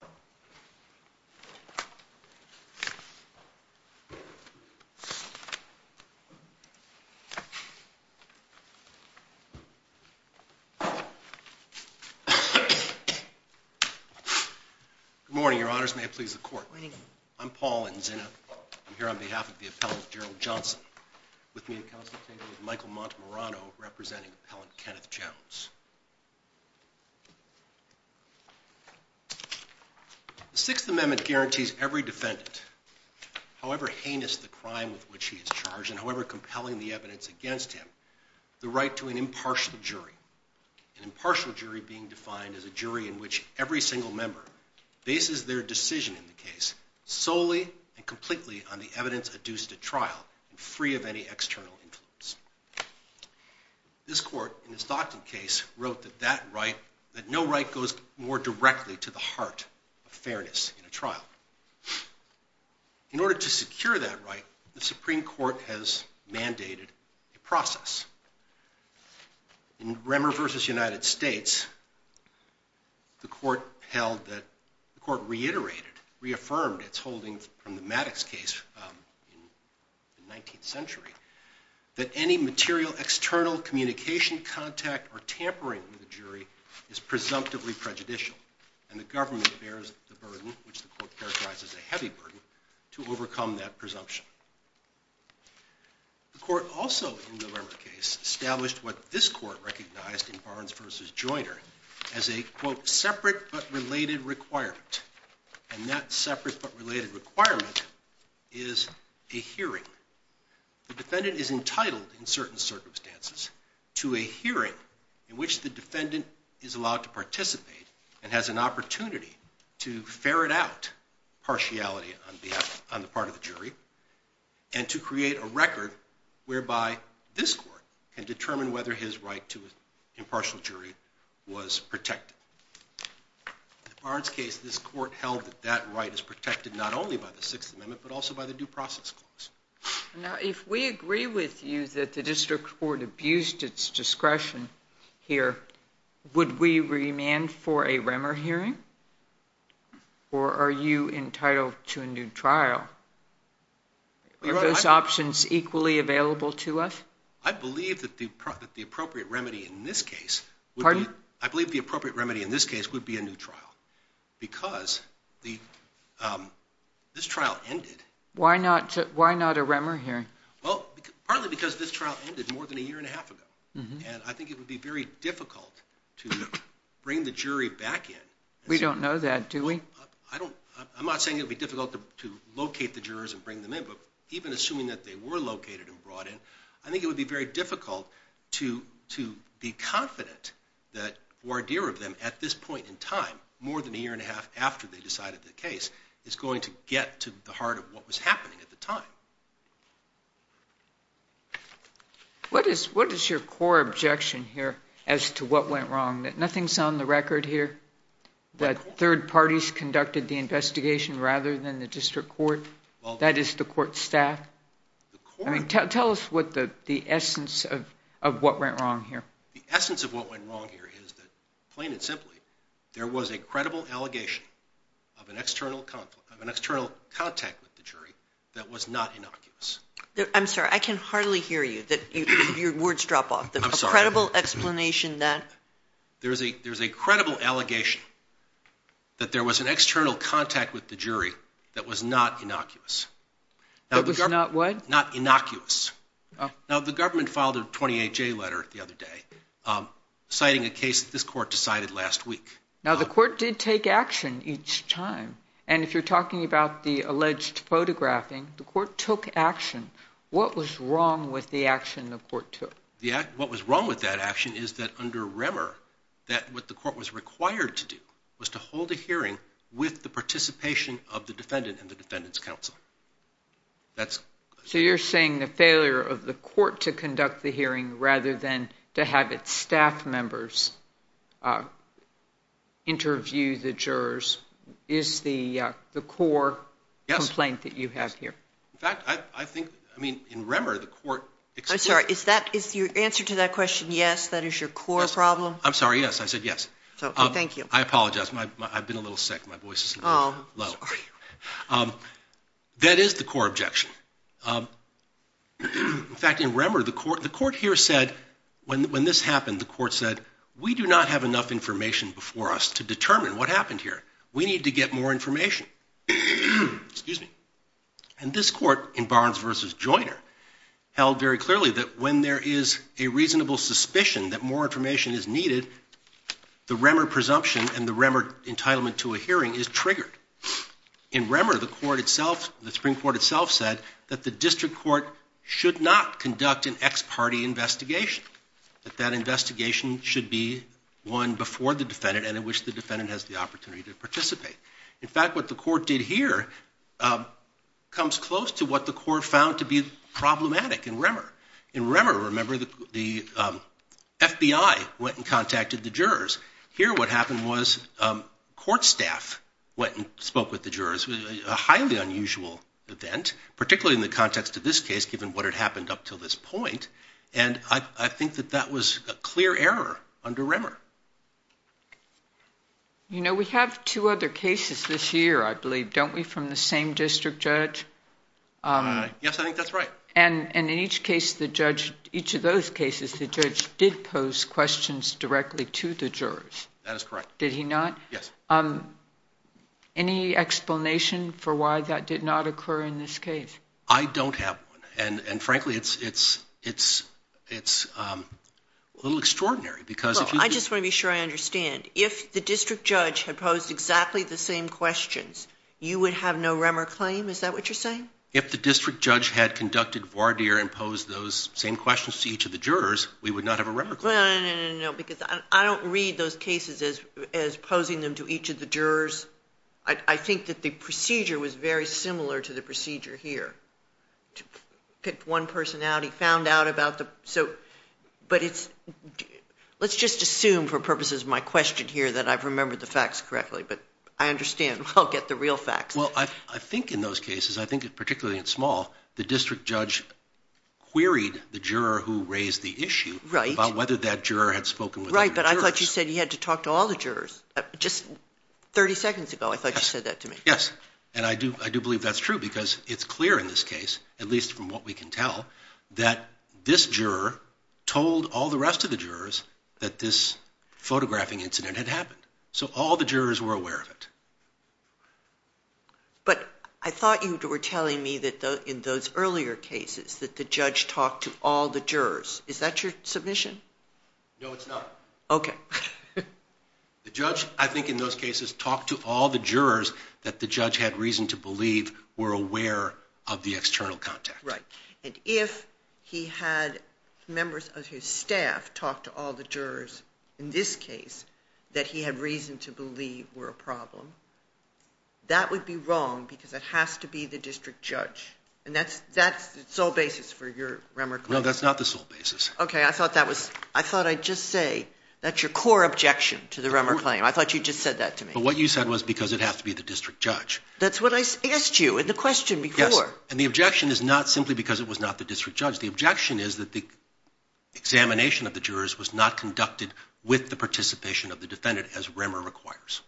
Good morning, Your Honors, and may it please the Court. I'm Paul Nzinna. I'm here on behalf of the Appellant Gerald Johnson, with me in consultation with Michael The Sixth Amendment guarantees every defendant, however heinous the crime with which he is charged and however compelling the evidence against him, the right to an impartial jury, an impartial jury being defined as a jury in which every single member bases their decision in the case solely and completely on the evidence adduced at trial and free of any external influence. This Court, in its Doctrine case, wrote that that right, that no right goes more directly to the heart of fairness in a trial. In order to secure that right, the Supreme Court has mandated a process. In Remmer v. United States, the Court held that, the Court reiterated, reaffirmed its holdings from the Maddox case in the 19th century, that any material external communication contact or tampering with a jury is presumptively prejudicial, and the government bears the burden, which the Court characterized as a heavy burden, to overcome that presumption. The Court also, in the Remmer case, established what this Court recognized in Barnes v. Joiner as a, quote, separate but related requirement, and that separate but related requirement is a hearing. The defendant is entitled, in certain circumstances, to a hearing in which the defendant is allowed to participate and has an opportunity to ferret out partiality on the part of the jury and to create a record whereby this Court can determine whether his right to impartial jury was protected. In the Barnes case, this Court held that that right is protected not only by the Sixth Amendment, but also by the Due Process Clause. Now, if we agree with you that the District Court abused its discretion here, would we remand for a Remmer hearing, or are you entitled to a new trial? Are those options equally available to us? I believe that the appropriate remedy in this case would be a new trial, because this trial ended. Why not a Remmer hearing? Well, partly because this trial ended more than a year and a half ago, and I think it would be very difficult to bring the jury back in. We don't know that, do we? I'm not saying it would be difficult to locate the jurors and bring them in, but even assuming that they were located and brought in, I think it would be very difficult to be confident that a voir dire of them, at this point in time, more than a year and a half after they What is your core objection here as to what went wrong, that nothing's on the record here? That third parties conducted the investigation rather than the District Court? That is, the court staff? Tell us the essence of what went wrong here. The essence of what went wrong here is that, plain and simply, there was a credible allegation of an external contact with the jury that was not innocuous. I'm sorry, I can hardly hear you. Your words drop off. I'm sorry. A credible explanation that? There's a credible allegation that there was an external contact with the jury that was not innocuous. That was not what? Not innocuous. Now, the government filed a 28-J letter the other day, citing a case that this court decided last week. Now, the court did take action each time. And if you're talking about the alleged photographing, the court took action. What was wrong with the action the court took? What was wrong with that action is that, under Remmer, that what the court was required to do was to hold a hearing with the participation of the defendant and the defendant's counsel. So you're saying the failure of the court to conduct the hearing rather than to have staff members interview the jurors is the core complaint that you have here? Yes. In fact, I think, I mean, in Remmer, the court. I'm sorry. Is your answer to that question, yes, that is your core problem? I'm sorry, yes. I said yes. Oh, thank you. I apologize. I've been a little sick. My voice is a little low. Oh, I'm sorry. That is the core objection. In fact, in Remmer, the court here said, when this happened, the court said, we do not have enough information before us to determine what happened here. We need to get more information. And this court, in Barnes v. Joyner, held very clearly that when there is a reasonable suspicion that more information is needed, the Remmer presumption and the Remmer entitlement to a hearing is triggered. In Remmer, the court itself, the Supreme Court itself said that the district court should not conduct an ex-party investigation, that that investigation should be one before the defendant and in which the defendant has the opportunity to participate. In fact, what the court did here comes close to what the court found to be problematic in Remmer. In Remmer, remember, the FBI went and contacted the jurors. Here what happened was court staff went and spoke with the jurors, a highly unusual event, particularly in the context of this case, given what had happened up to this point. And I think that that was a clear error under Remmer. You know, we have two other cases this year, I believe, don't we, from the same district judge? Yes, I think that's right. And in each case, the judge, each of those cases, the judge did pose questions directly to the jurors. That is correct. Did he not? Yes. Any explanation for why that did not occur in this case? I don't have one. And frankly, it's a little extraordinary because... I just want to be sure I understand. If the district judge had posed exactly the same questions, you would have no Remmer claim? Is that what you're saying? If the district judge had conducted voir dire and posed those same questions to each of the jurors, we would not have a Remmer claim. No, because I don't read those cases as posing them to each of the jurors. I think that the procedure was very similar to the procedure here. To pick one personality, found out about the... But it's... Let's just assume, for purposes of my question here, that I've remembered the facts correctly. But I understand. I'll get the real facts. Well, I think in those cases, I think particularly in Small, the district judge queried the juror who raised the issue about whether that juror had spoken with other jurors. Right, but I thought you said he had to talk to all the jurors. Just 30 seconds ago, I thought you said that to me. Yes. And I do believe that's true because it's clear in this case, at least from what we can tell, that this juror told all the rest of the jurors that this photographing incident had happened. So all the jurors were aware of it. But I thought you were telling me that in those earlier cases, that the judge talked to all the jurors. Is that your submission? No, it's not. Okay. The judge, I think in those cases, talked to all the jurors that the judge had reason to believe were aware of the external contact. Right. And if he had members of his staff talk to all the jurors in this case that he had reason to believe were a problem, that would be wrong because it has to be the district judge. And that's the sole basis for your Remmer claim? No, that's not the sole basis. Okay. I thought that was, I thought I'd just say that's your core objection to the Remmer claim. I thought you just said that to me. But what you said was because it has to be the district judge. That's what I asked you in the question before. Yes. And the objection is not simply because it was not the district judge. The objection is that the examination of the jurors was not conducted with the participation of the defendant as Remmer requires.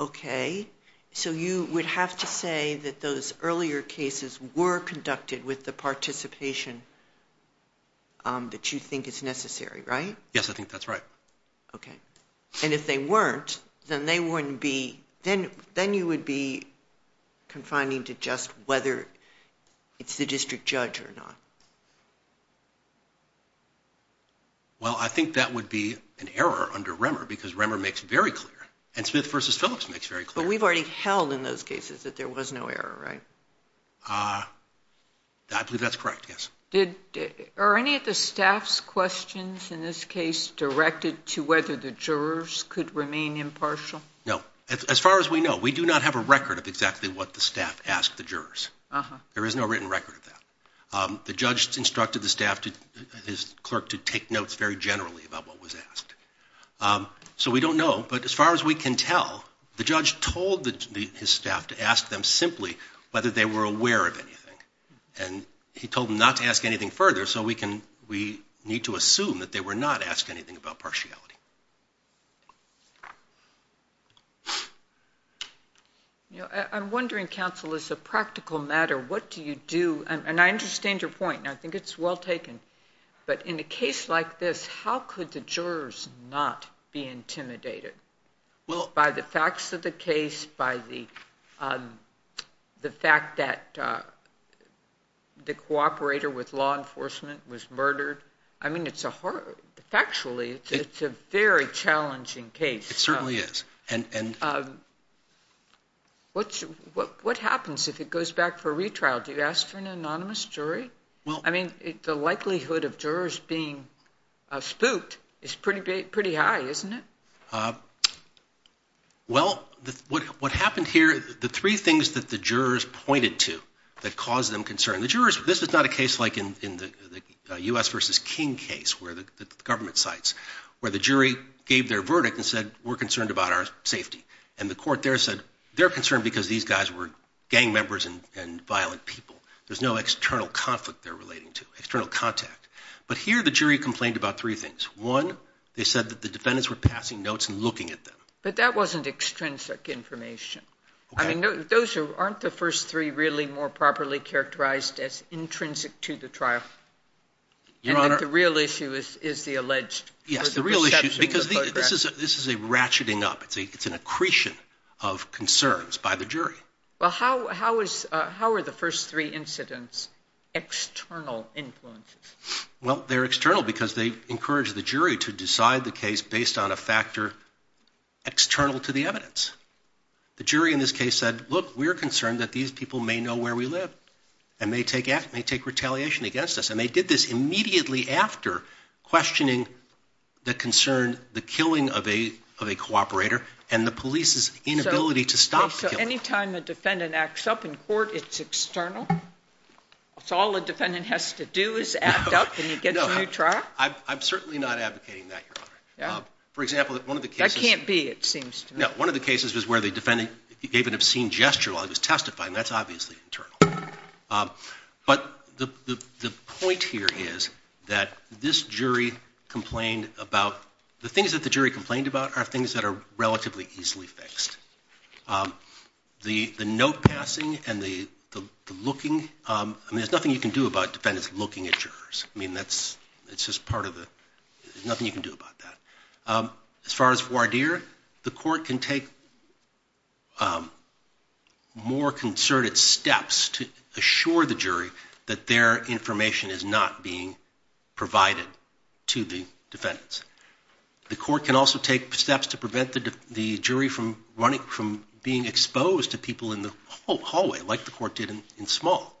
Okay. So you would have to say that those earlier cases were conducted with the participation that you think is necessary, right? Yes, I think that's right. Okay. And if they weren't, then they wouldn't be, then you would be confining to just whether it's the district judge or not. Well I think that would be an error under Remmer because Remmer makes very clear. And Smith v. Phillips makes very clear. But we've already held in those cases that there was no error, right? I believe that's correct, yes. Are any of the staff's questions in this case directed to whether the jurors could remain impartial? No. As far as we know, we do not have a record of exactly what the staff asked the jurors. There is no written record of that. The judge instructed the staff, his clerk, to take notes very generally about what was asked. So we don't know. But as far as we can tell, the judge told his staff to ask them simply whether they were aware of anything. And he told them not to ask anything further, so we need to assume that they were not asked anything about partiality. I'm wondering, counsel, as a practical matter, what do you do? And I understand your point, and I think it's well taken. But in a case like this, how could the jurors not be intimidated by the facts of the case, by the fact that the cooperator with law enforcement was murdered? I mean, factually, it's a very challenging case. It certainly is. What happens if it goes back for a retrial? Do you ask for an anonymous jury? I mean, the likelihood of jurors being spooked is pretty high, isn't it? Well, what happened here, the three things that the jurors pointed to that caused them concern. The jurors, this is not a case like in the U.S. v. King case, where the government cites, where the jury gave their verdict and said, we're concerned about our safety. And the court there said, they're concerned because these guys were gang members and violent people. There's no external conflict they're relating to, external contact. But here, the jury complained about three things. One, they said that the defendants were passing notes and looking at them. But that wasn't extrinsic information. Okay. I mean, those aren't the first three really more properly characterized as intrinsic to the trial. Your Honor. And the real issue is the alleged perception of the photographs. Yes, the real issue, because this is a ratcheting up. It's an accretion of concerns by the jury. Well, how are the first three incidents external influences? Well, they're external because they encourage the jury to decide the case based on a factor external to the evidence. The jury in this case said, look, we're concerned that these people may know where we live and may take retaliation against us. And they did this immediately after questioning the concern, the killing of a cooperator and the police's inability to stop the killing. So any time a defendant acts up in court, it's external? It's all a defendant has to do is act up and you get the new trial? I'm certainly not advocating that, Your Honor. For example, one of the cases... That can't be, it seems to me. No. One of the cases was where the defendant gave an obscene gesture while he was testifying. That's obviously internal. But the point here is that this jury complained about... The things that the jury complained about are things that are relatively easily fixed. The note passing and the looking, I mean, there's nothing you can do about defendants looking at jurors. I mean, that's just part of the... There's nothing you can do about that. As far as voir dire, the court can take more concerted steps to assure the jury that their The court can also take steps to prevent the jury from being exposed to people in the hallway, like the court did in Small.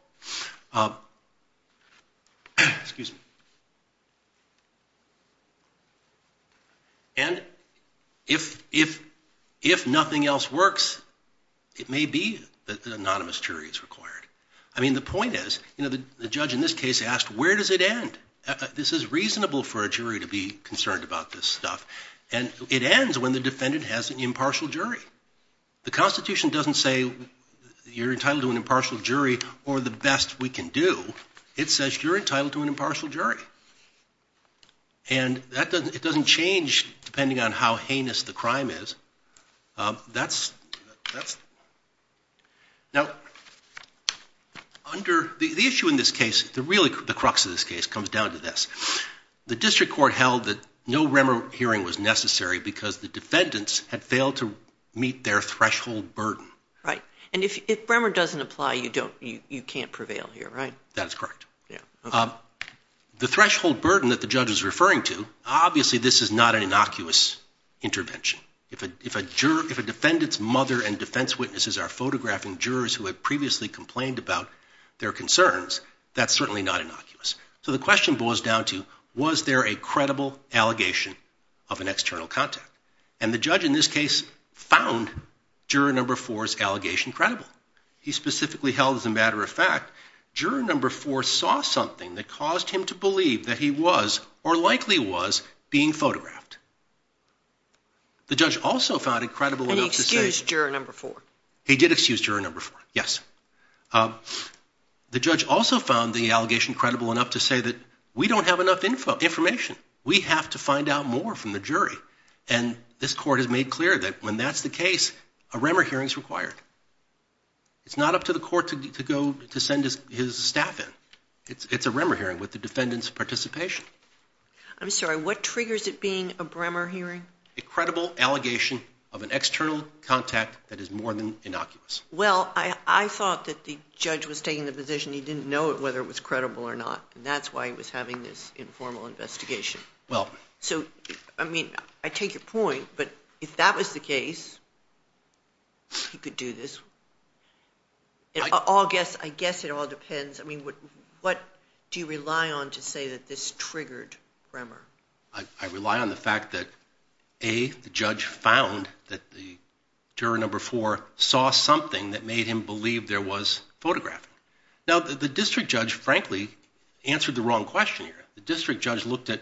And if nothing else works, it may be that an anonymous jury is required. I mean, the point is, the judge in this case asked, where does it end? This is reasonable for a jury to be concerned about this stuff. And it ends when the defendant has an impartial jury. The Constitution doesn't say you're entitled to an impartial jury or the best we can do. It says you're entitled to an impartial jury. And it doesn't change depending on how heinous the crime is. Now, under the issue in this case, the crux of this case comes down to this. The district court held that no Remmer hearing was necessary because the defendants had failed to meet their threshold burden. And if Remmer doesn't apply, you can't prevail here, right? That's correct. The threshold burden that the judge is referring to, obviously this is not an innocuous intervention. If a defendant's mother and defense witnesses are photographing jurors who had previously complained about their concerns, that's certainly not innocuous. So the question boils down to, was there a credible allegation of an external contact? And the judge in this case found juror number four's allegation credible. He specifically held, as a matter of fact, juror number four saw something that caused him to believe that he was, or likely was, being photographed. The judge also found it credible enough to say- And he excused juror number four. He did excuse juror number four, yes. The judge also found the allegation credible enough to say that we don't have enough information. We have to find out more from the jury. And this court has made clear that when that's the case, a Remmer hearing is required. It's not up to the court to go to send his staff in. It's a Remmer hearing with the defendant's participation. I'm sorry, what triggers it being a Bremer hearing? A credible allegation of an external contact that is more than innocuous. Well, I thought that the judge was taking the position he didn't know whether it was credible or not. And that's why he was having this informal investigation. Well- So, I mean, I take your point, but if that was the case, he could do this. I guess it all depends. I mean, what do you rely on to say that this triggered Remmer? I rely on the fact that A, the judge found that the juror number four saw something that made him believe there was photographing. Now, the district judge, frankly, answered the wrong question here. The district judge looked at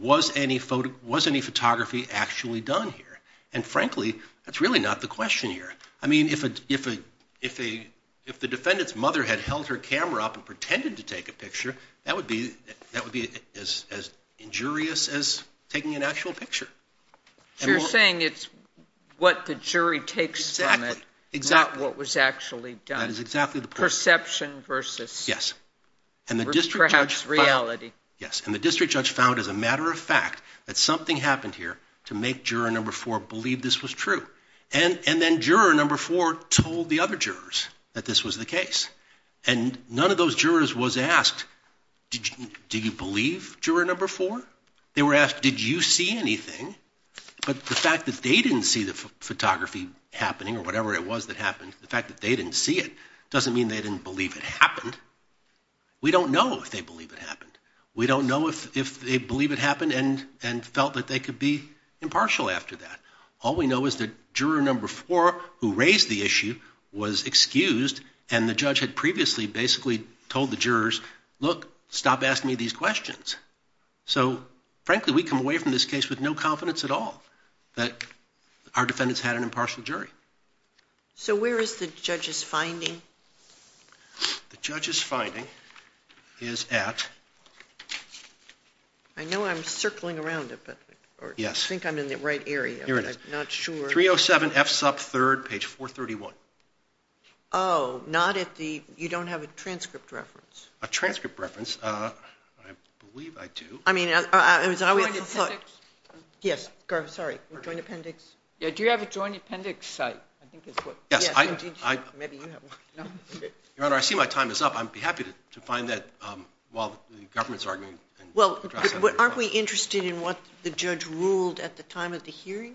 was any photography actually done here? And frankly, that's really not the question here. I mean, if the defendant's mother had held her camera up and pretended to take a picture, that would be as injurious as taking an actual picture. So you're saying it's what the jury takes from it, not what was actually done. That is exactly the point. Perception versus- Yes. And the district judge found- Perhaps reality. Yes, and the district judge found, as a matter of fact, that something happened here to make juror number four believe this was true. And then juror number four told the other jurors that this was the case. And none of those jurors was asked, do you believe juror number four? They were asked, did you see anything? But the fact that they didn't see the photography happening, or whatever it was that happened, the fact that they didn't see it doesn't mean they didn't believe it happened. We don't know if they believe it happened. We don't know if they believe it happened and felt that they could be impartial after that. All we know is that juror number four, who raised the issue, was excused. And the judge had previously basically told the jurors, look, stop asking me these questions. So, frankly, we come away from this case with no confidence at all that our defendants had an impartial jury. So where is the judge's finding? The judge's finding is at- I know I'm circling around it, but- Yes. I think I'm in the right area, but I'm not sure. 307 F SUP 3rd, page 431. Not at the, you don't have a transcript reference. A transcript reference, I believe I do. I mean, it was always the foot. Yes, sorry, Joint Appendix. Yeah, do you have a Joint Appendix site, I think is what- Yes, I- Maybe you have one. Your Honor, I see my time is up. I'd be happy to find that while the government's arguing. Well, aren't we interested in what the judge ruled at the time of the hearing?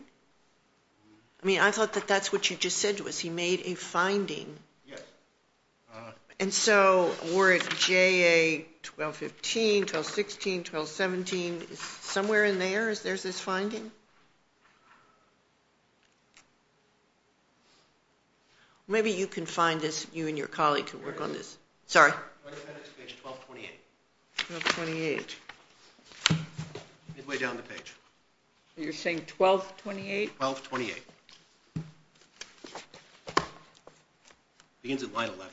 I mean, I thought that that's what you just said to us. He made a finding. Yes. And so, were it JA 1215, 1216, 1217, somewhere in there is there's this finding? Maybe you can find this, you and your colleague can work on this. Sorry. Joint Appendix, page 1228. 1228. Midway down the page. You're saying 1228? 1228. Begins at line 11.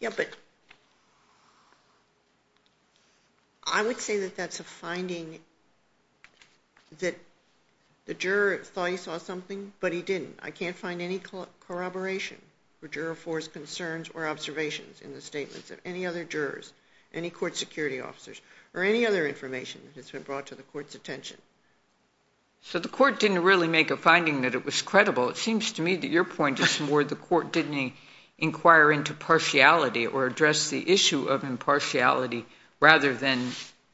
Yep, it- I would say that that's a finding that the juror thought he saw something, but he didn't. I can't find any corroboration for juror force concerns or observations in the statements of any other jurors, any court security officers, or any other information that's been brought to the court's attention. So the court didn't really make a finding that it was credible. It seems to me that your point is more the court didn't inquire into partiality or address the issue of impartiality rather than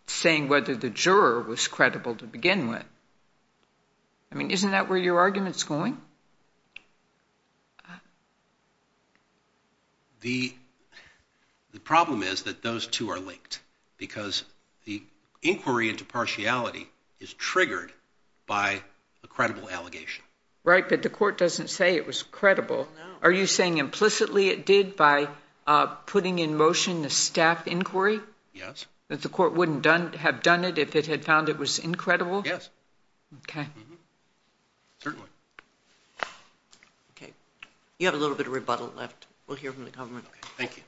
saying whether the juror was credible to begin with. I mean, isn't that where your argument's going? The problem is that those two are linked because the inquiry into partiality is triggered by a credible allegation. Right, but the court doesn't say it was credible. Are you saying implicitly it did by putting in motion a staff inquiry? Yes. That the court wouldn't have done it if it had found it was incredible? Yes. Okay. Certainly. Okay. You have a little bit of rebuttal left. We'll hear from the government. Okay, thank you.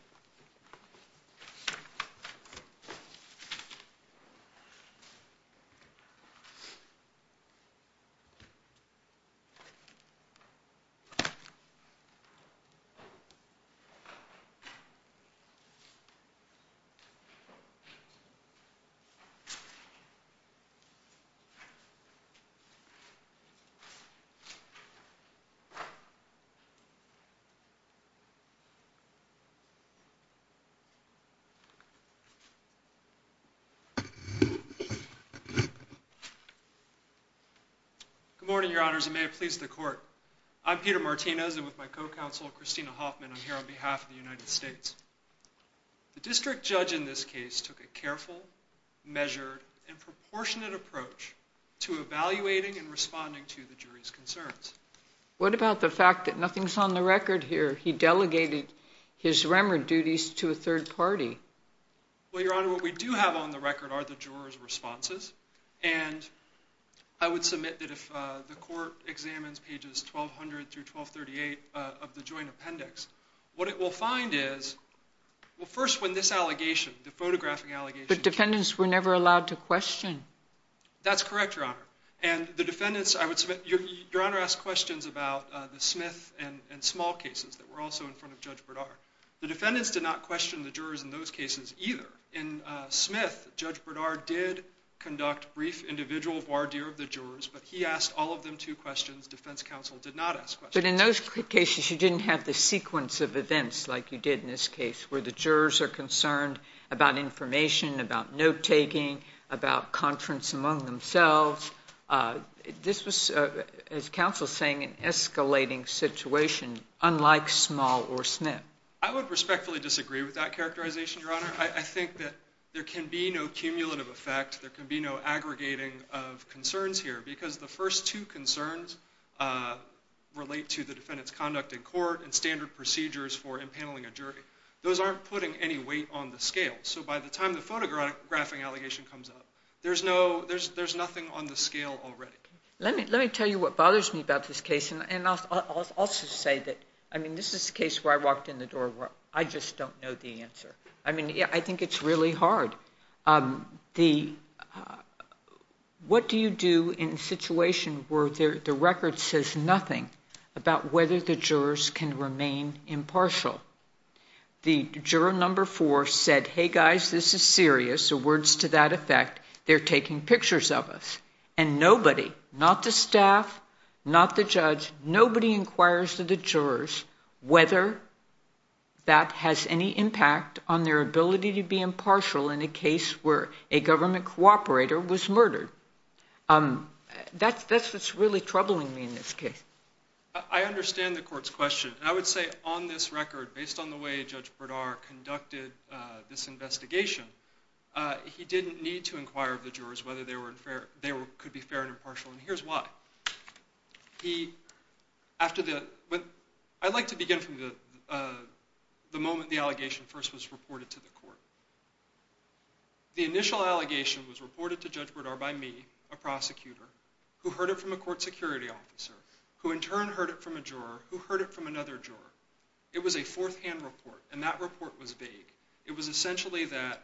Good morning, your honors, and may it please the court. I'm Peter Martinez, and with my co-counsel, Christina Hoffman, I'm here on behalf of the United States. The district judge in this case took a careful, measured, and proportionate approach to evaluating and responding to the jury's concerns. What about the fact that nothing's on the record here? He delegated his remord duties to a third party. Well, your honor, what we do have on the record are the juror's responses, and I would submit that if the court examines pages 1200 through 1238 of the joint appendix, what it will find is, well, first, when this allegation, the photographing allegation- But defendants were never allowed to question. That's correct, your honor. And the defendants, I would submit, your honor asked questions about the Smith and Small cases that were also in front of Judge Bradar. The defendants did not question the jurors in those cases either. In Smith, Judge Bradar did conduct brief individual voir dire of the jurors, but he asked all of them two questions. Defense counsel did not ask questions. But in those cases, you didn't have the sequence of events like you did in this case, where the jurors are concerned about information, about note-taking, about conference among themselves. This was, as counsel's saying, an escalating situation, unlike Small or Smith. I would respectfully disagree with that characterization, your honor. I think that there can be no cumulative effect, there can be no aggregating of concerns here, because the first two concerns relate to the defendant's conduct in court and standard procedures for impaneling a jury. Those aren't putting any weight on the scale. So by the time the photographing allegation comes up, there's nothing on the scale already. Let me tell you what bothers me about this case, and I'll also say that, I mean, this is a case where I walked in the door where I just don't know the answer. I mean, I think it's really hard. What do you do in a situation where the record says nothing about whether the jurors can remain impartial? The juror number four said, hey, guys, this is serious, or words to that effect, they're taking pictures of us. And nobody, not the staff, not the judge, nobody inquires to the jurors whether that has any impact on their ability to be impartial in a case where a government cooperator was murdered. That's what's really troubling me in this case. I understand the court's question. I would say on this record, based on the way Judge Berdar conducted this investigation, he didn't need to inquire of the jurors whether they could be fair and impartial, and here's why. He, after the, I like to begin from the moment the allegation first was reported to the court. The initial allegation was reported to Judge Berdar by me, a prosecutor, who heard it from a court security officer, who in turn heard it from a juror, who heard it from another juror. It was a fourth-hand report, and that report was vague. It was essentially that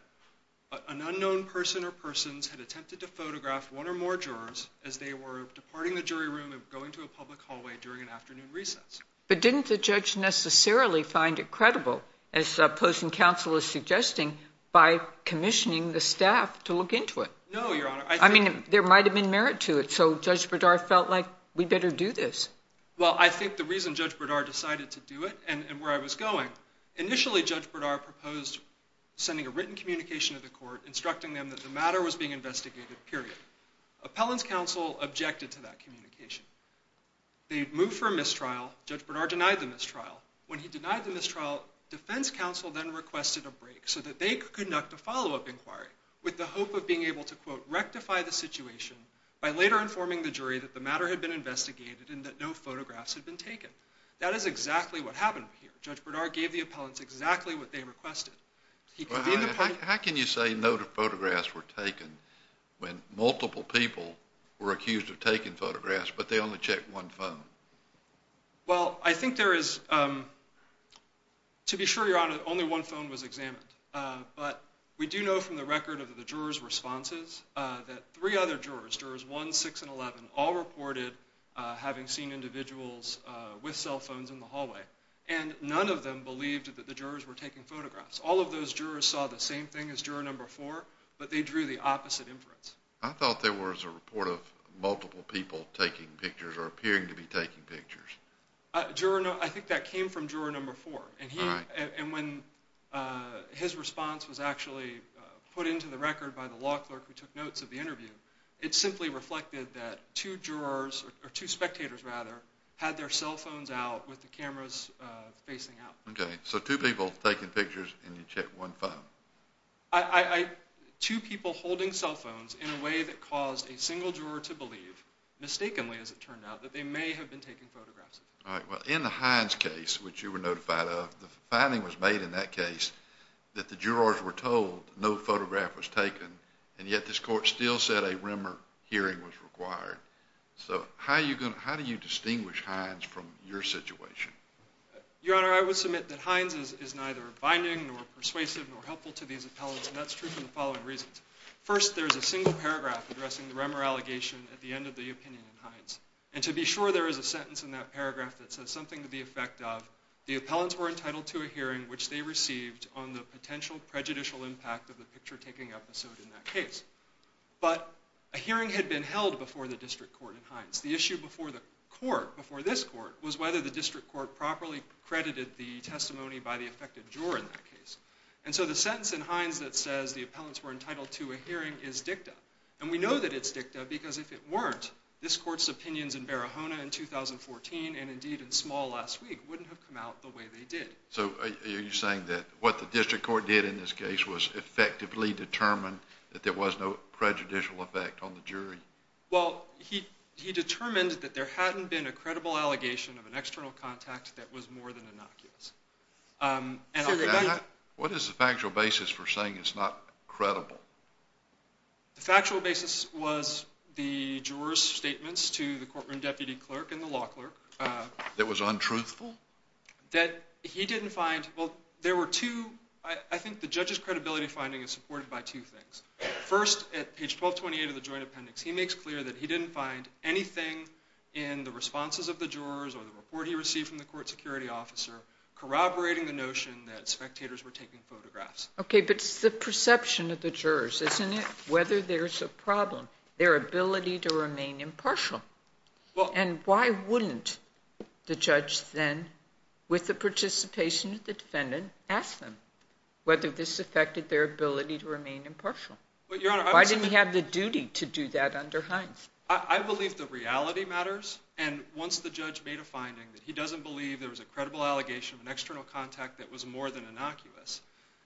an unknown person or persons had attempted to photograph one or more jurors as they were departing the jury room and going to a public hallway during an afternoon recess. But didn't the judge necessarily find it credible, as opposing counsel is suggesting, by commissioning the staff to look into it? No, Your Honor. I mean, there might have been merit to it, so Judge Berdar felt like, we better do this. Well, I think the reason Judge Berdar decided to do it, and where I was going, initially Judge Berdar proposed sending a written communication to the court instructing them that the matter was being investigated, period. Appellant's counsel objected to that communication. They moved for a mistrial. Judge Berdar denied the mistrial. When he denied the mistrial, defense counsel then requested a break so that they could conduct a follow-up inquiry with the hope of being able to, quote, rectify the situation by later informing the jury that the matter had been investigated and that no photographs had been taken. That is exactly what happened here. Judge Berdar gave the appellants exactly what they requested. How can you say no photographs were taken when multiple people were accused of taking photographs, but they only checked one phone? Well, I think there is, to be sure, Your Honor, only one phone was examined. But we do know from the record of the jurors' responses that three other jurors, jurors 1, 6, and 11, all reported having seen individuals with cell phones in the hallway. And none of them believed that the jurors were taking photographs. All of those jurors saw the same thing as juror number 4, but they drew the opposite inference. I thought there was a report of multiple people taking pictures or appearing to be taking pictures. I think that came from juror number 4. And when his response was actually put into the record by the law clerk who took notes of the interview, it simply reflected that two jurors, or two spectators rather, had their cell phones out with the cameras facing out. OK. So two people taking pictures and you checked one phone. Two people holding cell phones in a way that caused a single juror to believe, mistakenly as it turned out, that they may have been taking photographs. All right. Well, in the Hines case, which you were notified of, the finding was made in that case that the jurors were told no photograph was taken, and yet this court still said a rumor hearing was required. So how do you distinguish Hines from your situation? Your Honor, I would submit that Hines is neither binding nor persuasive nor helpful to these appellants, and that's true for the following reasons. First, there is a single paragraph addressing the rumor allegation at the end of the opinion in Hines. And to be sure, there is a sentence in that paragraph that says something to the effect of, the appellants were entitled to a hearing which they received on the potential prejudicial impact of the picture-taking episode in that case. But a hearing had been held before the district court in Hines. The issue before the court, before this court, was whether the district court properly credited the testimony by the affected juror in that case. And so the sentence in Hines that says the appellants were entitled to a hearing is dicta. And we know that it's dicta because if it weren't, this court's opinions in Barahona in 2014, and indeed in Small last week, wouldn't have come out the way they did. So are you saying that what the district court did in this case was effectively determine that there was no prejudicial effect on the jury? Well, he determined that there hadn't been a credible allegation of an external contact that was more than innocuous. What is the factual basis for saying it's not credible? The factual basis was the juror's statements to the courtroom deputy clerk and the law clerk. That was untruthful? That he didn't find, well, there were two, I think the judge's credibility finding is supported by two things. First, at page 1228 of the joint appendix, he makes clear that he didn't find anything in the responses of the jurors or the report he received from the court security officer corroborating the notion that spectators were taking photographs. Okay, but it's the perception of the jurors, isn't it? Whether there's a problem, their ability to remain impartial. And why wouldn't the judge then, with the participation of the defendant, ask them whether this affected their ability to remain impartial? Why didn't he have the duty to do that under Hines? I believe the reality matters, and once the judge made a finding that he doesn't believe there was a credible allegation of an external contact that was more than innocuous,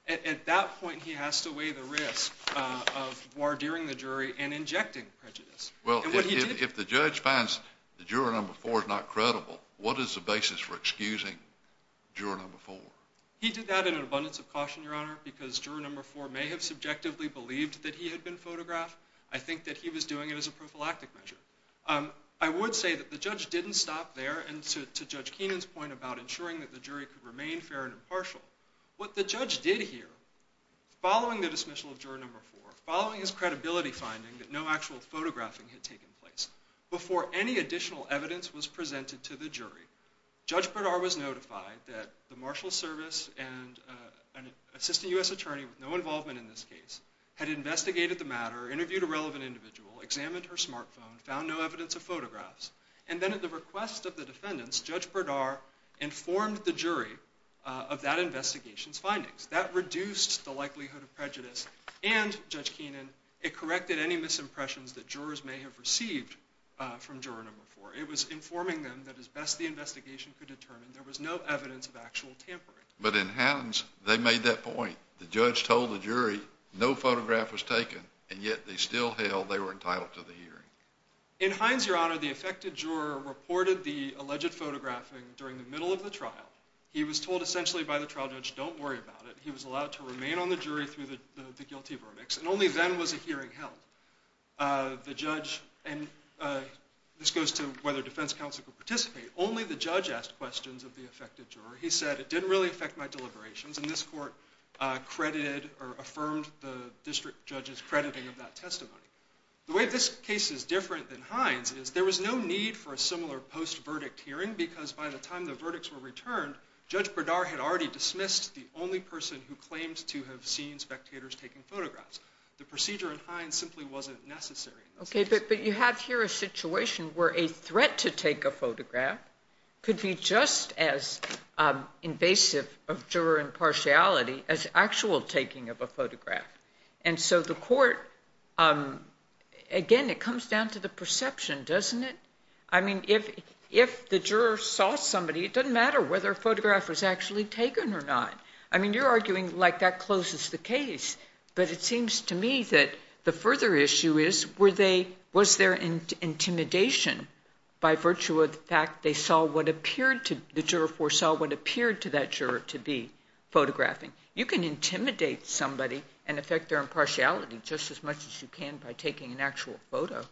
at that point he has to weigh the risk of wardeering the jury and injecting prejudice. Well, if the judge finds the juror number four is not credible, what is the basis for excusing juror number four? He did that in an abundance of caution, Your Honor, because juror number four may have subjectively believed that he had been photographed. I think that he was doing it as a prophylactic measure. I would say that the judge didn't stop there, and to Judge Keenan's point about ensuring that the jury could remain fair and impartial, what the judge did here, following the dismissal of juror number four, following his credibility finding that no actual photographing had taken place, before any additional evidence was presented to the jury, Judge Berdar was notified that the Marshal Service and an assistant U.S. attorney with no involvement in this case had investigated the matter, interviewed a relevant individual, examined her smartphone, found no evidence of photographs, and then at the request of the defendants, Judge Berdar informed the jury of that investigation's findings. That reduced the likelihood of prejudice, and, Judge Keenan, it corrected any misimpressions that jurors may have received from juror number four. It was informing them that as best the investigation could determine, there was no evidence that there was no evidence of actual tampering. But in Hines, they made that point. The judge told the jury, no photograph was taken, and yet they still held they were entitled to the hearing. In Hines, Your Honor, the affected juror reported the alleged photographing during the middle of the trial. He was told essentially by the trial judge, don't worry about it, he was allowed to remain on the jury through the guilty verdicts, and only then was a hearing held. The judge, and this goes to whether defense counsel could participate, only the judge asked questions of the affected juror. He said, it didn't really affect my deliberations, and this court credited or affirmed the district judge's crediting of that testimony. The way this case is different than Hines is there was no need for a similar post-verdict hearing, because by the time the verdicts were returned, Judge Berdar had already dismissed the only person who claimed to have seen spectators taking photographs. The procedure in Hines simply wasn't necessary. Okay, but you have here a situation where a threat to take a photograph could be just as invasive of juror impartiality as actual taking of a photograph. And so the court, again, it comes down to the perception, doesn't it? I mean, if the juror saw somebody, it doesn't matter whether a photograph was actually taken or not. I mean, you're arguing like that closes the case, but it seems to me that the further issue is, was there intimidation by virtue of the fact the juror foresaw what appeared to that juror to be photographing. You can intimidate somebody and affect their impartiality just as much as you can by taking an actual photo.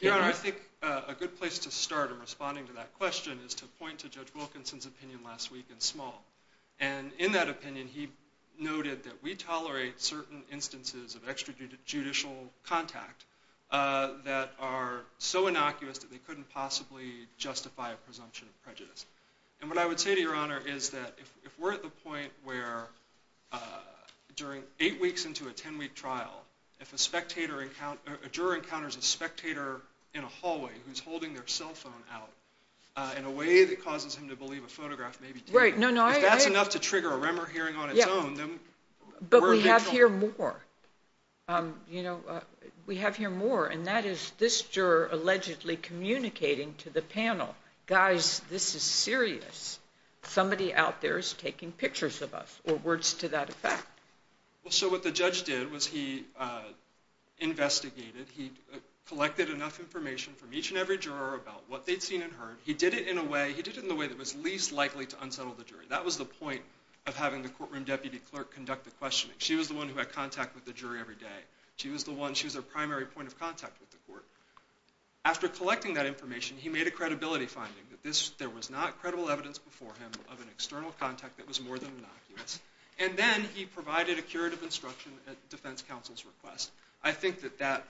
Your Honor, I think a good place to start in responding to that question is to point to Judge Wilkinson's opinion last week in Small. And in that opinion, he noted that we tolerate certain instances of extrajudicial contact that are so innocuous that they couldn't possibly justify a presumption of prejudice. And what I would say to Your Honor is that if we're at the point where during eight weeks into a 10-week trial, if a juror encounters a spectator in a hallway who's holding their cell phone out in a way that causes him to believe a photograph may be taken. If that's enough to trigger a remmer hearing on its own, then we're a victim. But we have here more. We have here more, and that is this juror allegedly communicating to the panel, guys, this is serious. Somebody out there is taking pictures of us, or words to that effect. So what the judge did was he investigated, he collected enough information from each and every juror about what they'd seen and heard. He did it in a way that was least likely to unsettle the jury. That was the point of having the courtroom deputy clerk conduct the questioning. She was the one who had contact with the jury every day. She was the one, she was their primary point of contact with the court. After collecting that information, he made a credibility finding that there was not credible evidence before him of an external contact that was more than innocuous. And then he provided a curative instruction at defense counsel's request. I think that that,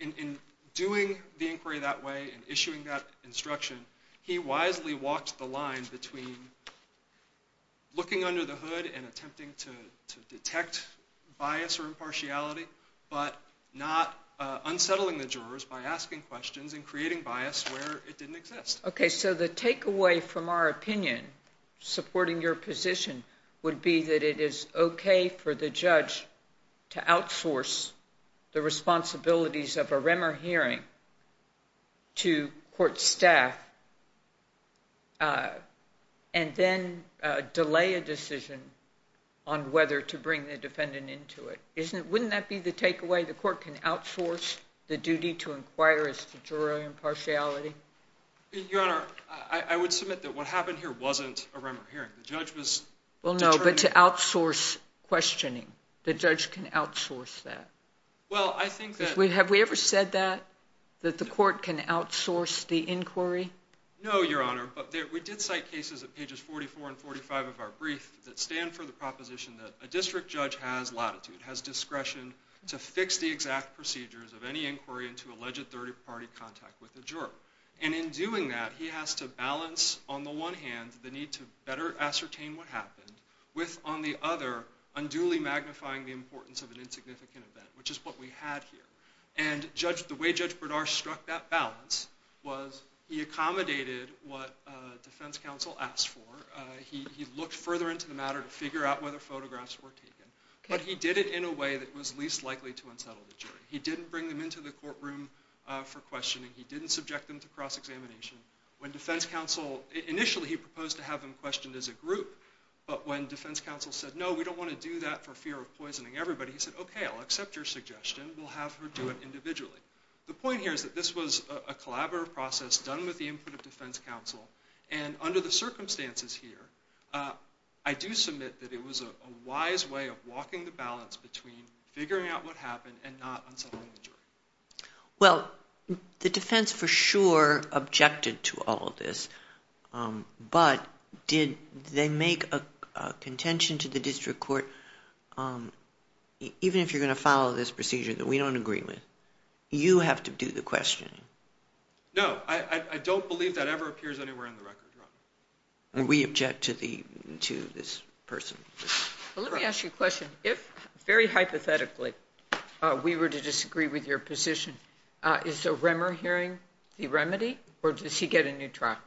in doing the inquiry that way and issuing that instruction, he wisely walked the line between looking under the hood and attempting to detect bias or impartiality, but not unsettling the jurors by asking questions and creating bias where it didn't exist. Okay, so the takeaway from our opinion, supporting your position, would be that it is okay for the judge to outsource the responsibilities of a Remmer hearing to court staff and then delay a decision on whether to bring the defendant into it. Wouldn't that be the takeaway? The court can outsource the duty to inquire as to jury impartiality? Your Honor, I would submit that what happened here wasn't a Remmer hearing. The judge was determined... Well, no, but to outsource questioning. The judge can outsource that. Have we ever said that, that the court can outsource the inquiry? No, Your Honor, but we did cite cases at pages 44 and 45 of our brief that stand for the proposition that a district judge has latitude, has discretion to fix the exact procedures of any inquiry into alleged third-party contact with a juror. And in doing that, he has to balance, on the one hand, the need to better ascertain what happened with, on the other, unduly magnifying the importance of an insignificant event, which is what we had here. And the way Judge Berdarch struck that balance was he accommodated what defense counsel asked for. He looked further into the matter to figure out whether photographs were taken. But he did it in a way that was least likely to unsettle the jury. He didn't bring them into the courtroom for questioning. He didn't subject them to cross-examination. When defense counsel... Initially, he proposed to have them questioned as a group, but when defense counsel said, no, we don't want to do that for fear of poisoning everybody, he said, okay, I'll accept your suggestion. We'll have her do it individually. The point here is that this was a collaborative process done with the input of defense counsel. And under the circumstances here, I do submit that it was a wise way of walking the balance between figuring out what happened and not unsettling the jury. Well, the defense for sure objected to all of this. But did they make a contention to the district court, even if you're going to follow this procedure that we don't agree with? You have to do the questioning. No. I don't believe that ever appears anywhere on the record, Your Honor. We object to this person. Let me ask you a question. If, very hypothetically, we were to disagree with your position, is a Remmer hearing the remedy or does he get a new trial?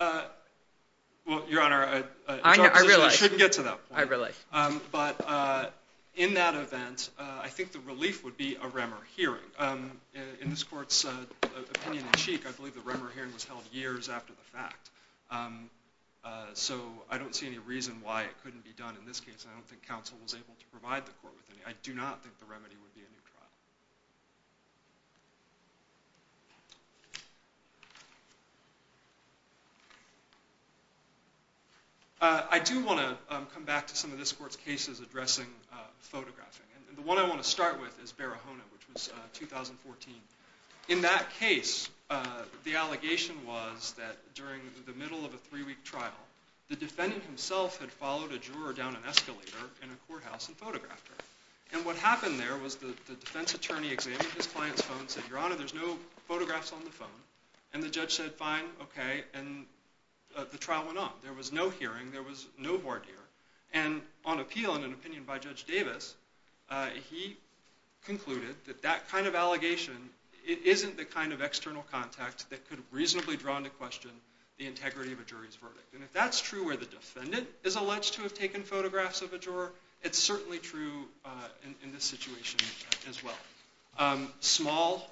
Well, Your Honor, I shouldn't get to that point. But in that event, I think the relief would be a Remmer hearing. In this court's opinion in cheek, I believe the Remmer hearing was held years after the fact. So I don't see any reason why it couldn't be done in this case. I don't think counsel was able to provide the court with any. I do not think the remedy would be a new trial. I do want to come back to some of this court's cases addressing photographing. And the one I want to start with is Barahona, which was 2014. In that case, the allegation was that during the middle of a three-week trial, the defendant himself had followed a juror down an escalator in a courthouse and photographed her. And what happened there was the defense attorney examined his client's phone, said, Your Honor, there's no photographs on the phone. And the judge said, fine, OK, and the trial went on. There was no hearing. There was no voir dire. And on appeal, in an opinion by Judge Davis, he concluded that that kind of allegation isn't the kind of external contact that could reasonably draw into question the integrity of a jury's verdict. And if that's true where the defendant is alleged to have taken photographs of a juror, it's certainly true in this situation as well. Small,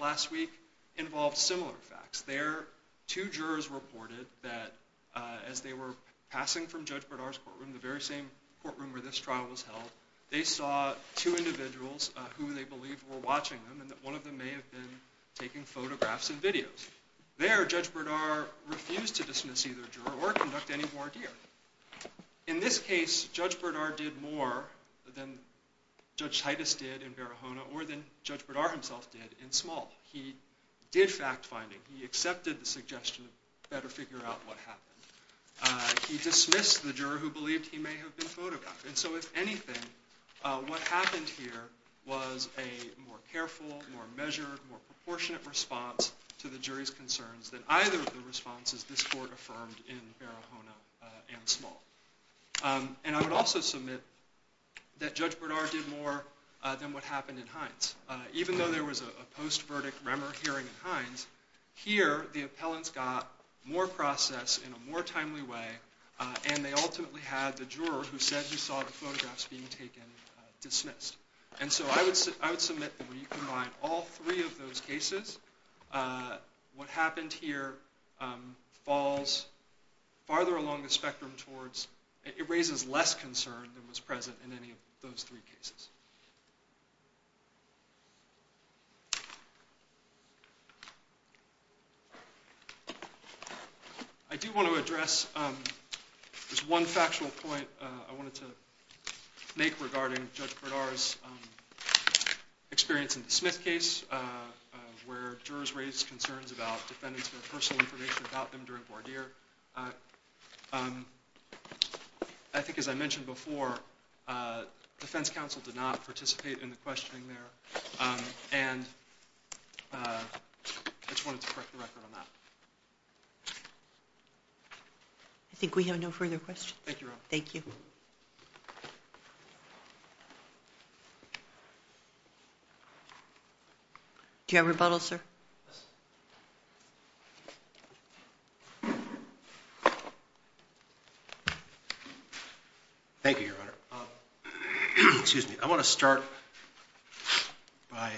last week, involved similar facts. There, two jurors reported that as they were passing from Judge Berdar's courtroom, the very same courtroom where this trial was held, they saw two individuals who they believed were watching them and that one of them may have been taking photographs and videos. There, Judge Berdar refused to dismiss either juror or conduct any voir dire. In this case, Judge Berdar did more than Judge Titus did in Barahona or than Judge Berdar himself did in Small. He did fact-finding. He accepted the suggestion to better figure out what happened. He dismissed the juror who believed he may have been photographed. And so if anything, what happened here was a more careful, more measured, more proportionate response to the jury's concerns than either of the responses this court affirmed in Barahona and Small. And I would also submit that Judge Berdar did more than what happened in Hines. Even though there was a post-verdict Remmer hearing in Hines, here, the appellants got more process in a more timely way and they ultimately had the juror who said he saw the photographs being taken dismissed. And so I would submit that when you combine all three of those cases, what happened here falls farther along the spectrum towards, it raises less concern than was present in any of those three cases. I do want to address just one factual point I wanted to make regarding Judge Berdar's experience in the Smith case, where jurors raised concerns about defendants' personal information about them during voir dire. I think, as I mentioned before, defense counsel did not participate in the questioning there. And I just wanted to correct the record on that. I think we have no further questions. Thank you, Your Honor. Do you have a rebuttal, sir? Yes. Thank you, Your Honor. I want to start by,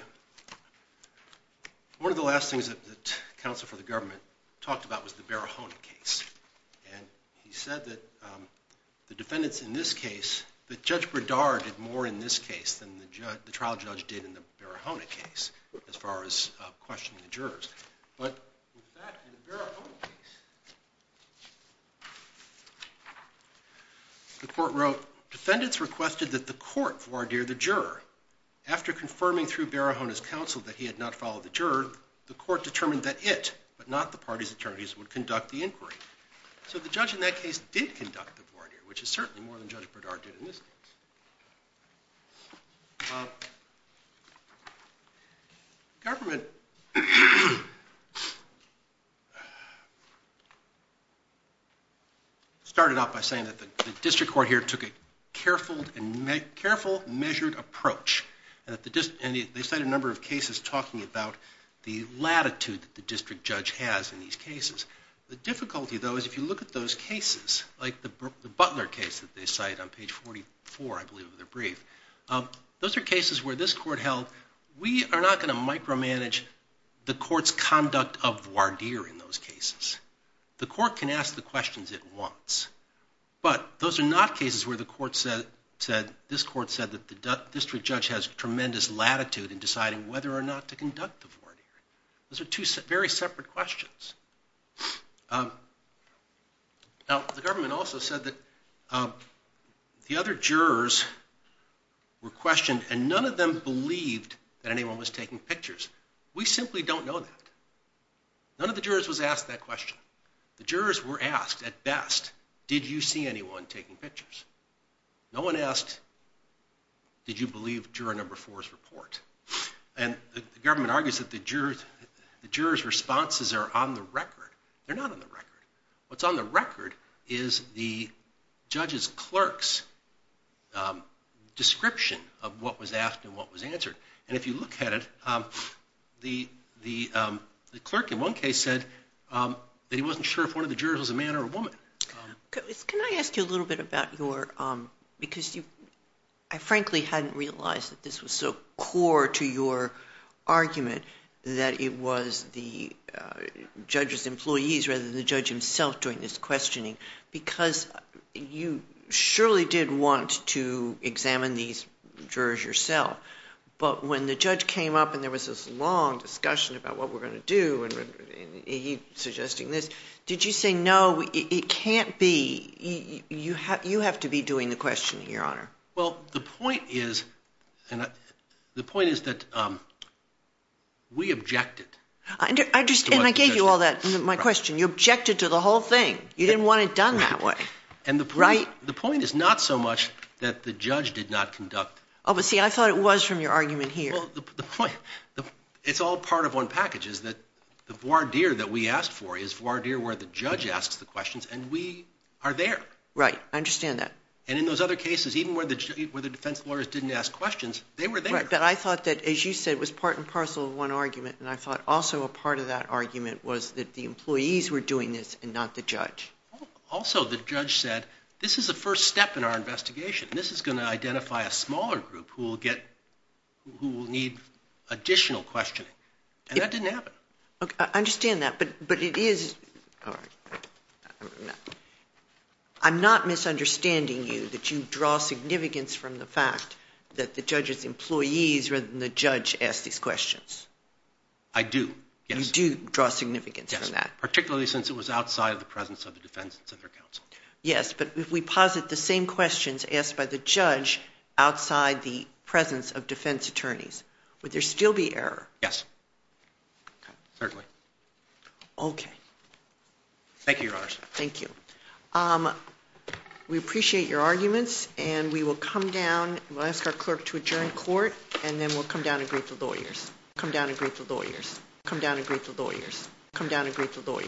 one of the last things that counsel for the government talked about was the Barahona case. And he said that the defendants in this case, that Judge Berdar did more in this case than the trial judge did in the Barahona case, as far as questioning the jurors. But in fact, in the Barahona case, the court wrote, defendants requested that the court voir dire the juror. After confirming through Barahona's counsel that he had not followed the juror, the court determined that it, but not the party's attorneys, would conduct the inquiry. So the judge in that case did conduct the voir dire, which is certainly more than Judge Berdar. Government started off by saying that the district court here took a careful, measured approach. And they cited a number of cases talking about the latitude that the district judge has in these cases. The difficulty, though, is if you look at those cases, like the Butler case that they did in 1944, I believe, with the brief, those are cases where this court held, we are not going to micromanage the court's conduct of voir dire in those cases. The court can ask the questions it wants. But those are not cases where the court said, this court said that the district judge has tremendous latitude in deciding whether or not to conduct the voir dire. Those are two very separate questions. Now, the government also said that the other jurors were questioned and none of them believed that anyone was taking pictures. We simply don't know that. None of the jurors was asked that question. The jurors were asked, at best, did you see anyone taking pictures? No one asked, did you believe juror number four's report? And the government argues that the jurors' responses are on the record. They're not on the record. What's on the record is the judge's clerk's description of what was asked and what was answered. And if you look at it, the clerk in one case said that he wasn't sure if one of the jurors was a man or a woman. Can I ask you a little bit about your, because I frankly hadn't realized that this was so core to your argument that it was the judge's employees rather than the judge himself doing this questioning because you surely did want to examine these jurors yourself. But when the judge came up and there was this long discussion about what we're going to do and he's suggesting this, did you say, no, it can't be, you have to be doing the questioning, Your Honor? Well, the point is that we objected. And I gave you all that, my question. You objected to the whole thing. You didn't want it done that way. And the point is not so much that the judge did not conduct. Oh, but see, I thought it was from your argument here. Well, the point, it's all part of one package is that the voir dire that we asked for is voir dire where the judge asks the questions and we are there. Right, I understand that. And in those other cases, even where the defense lawyers didn't ask questions, they were there. But I thought that, as you said, was part and parcel of one argument. And I thought also a part of that argument was that the employees were doing this and not the judge. Also, the judge said, this is the first step in our investigation. This is going to identify a smaller group who will need additional questioning. And that didn't happen. I understand that. But it is, I'm not misunderstanding you that you draw significance from the fact that the judge's employees rather than the judge ask these questions. I do, yes. You do draw significance from that. Yes, particularly since it was outside of the presence of the defense and center counsel. Yes, but if we posit the same questions asked by the judge outside the presence of defense attorneys, would there still be error? Yes, certainly. Okay. Thank you, Your Honor. Thank you. We appreciate your arguments, and we will come down, we'll ask our clerk to adjourn court, and then we'll come down and greet the lawyers. Come down and greet the lawyers. Come down and greet the lawyers. Come down and greet the lawyers. Come down and greet the lawyers.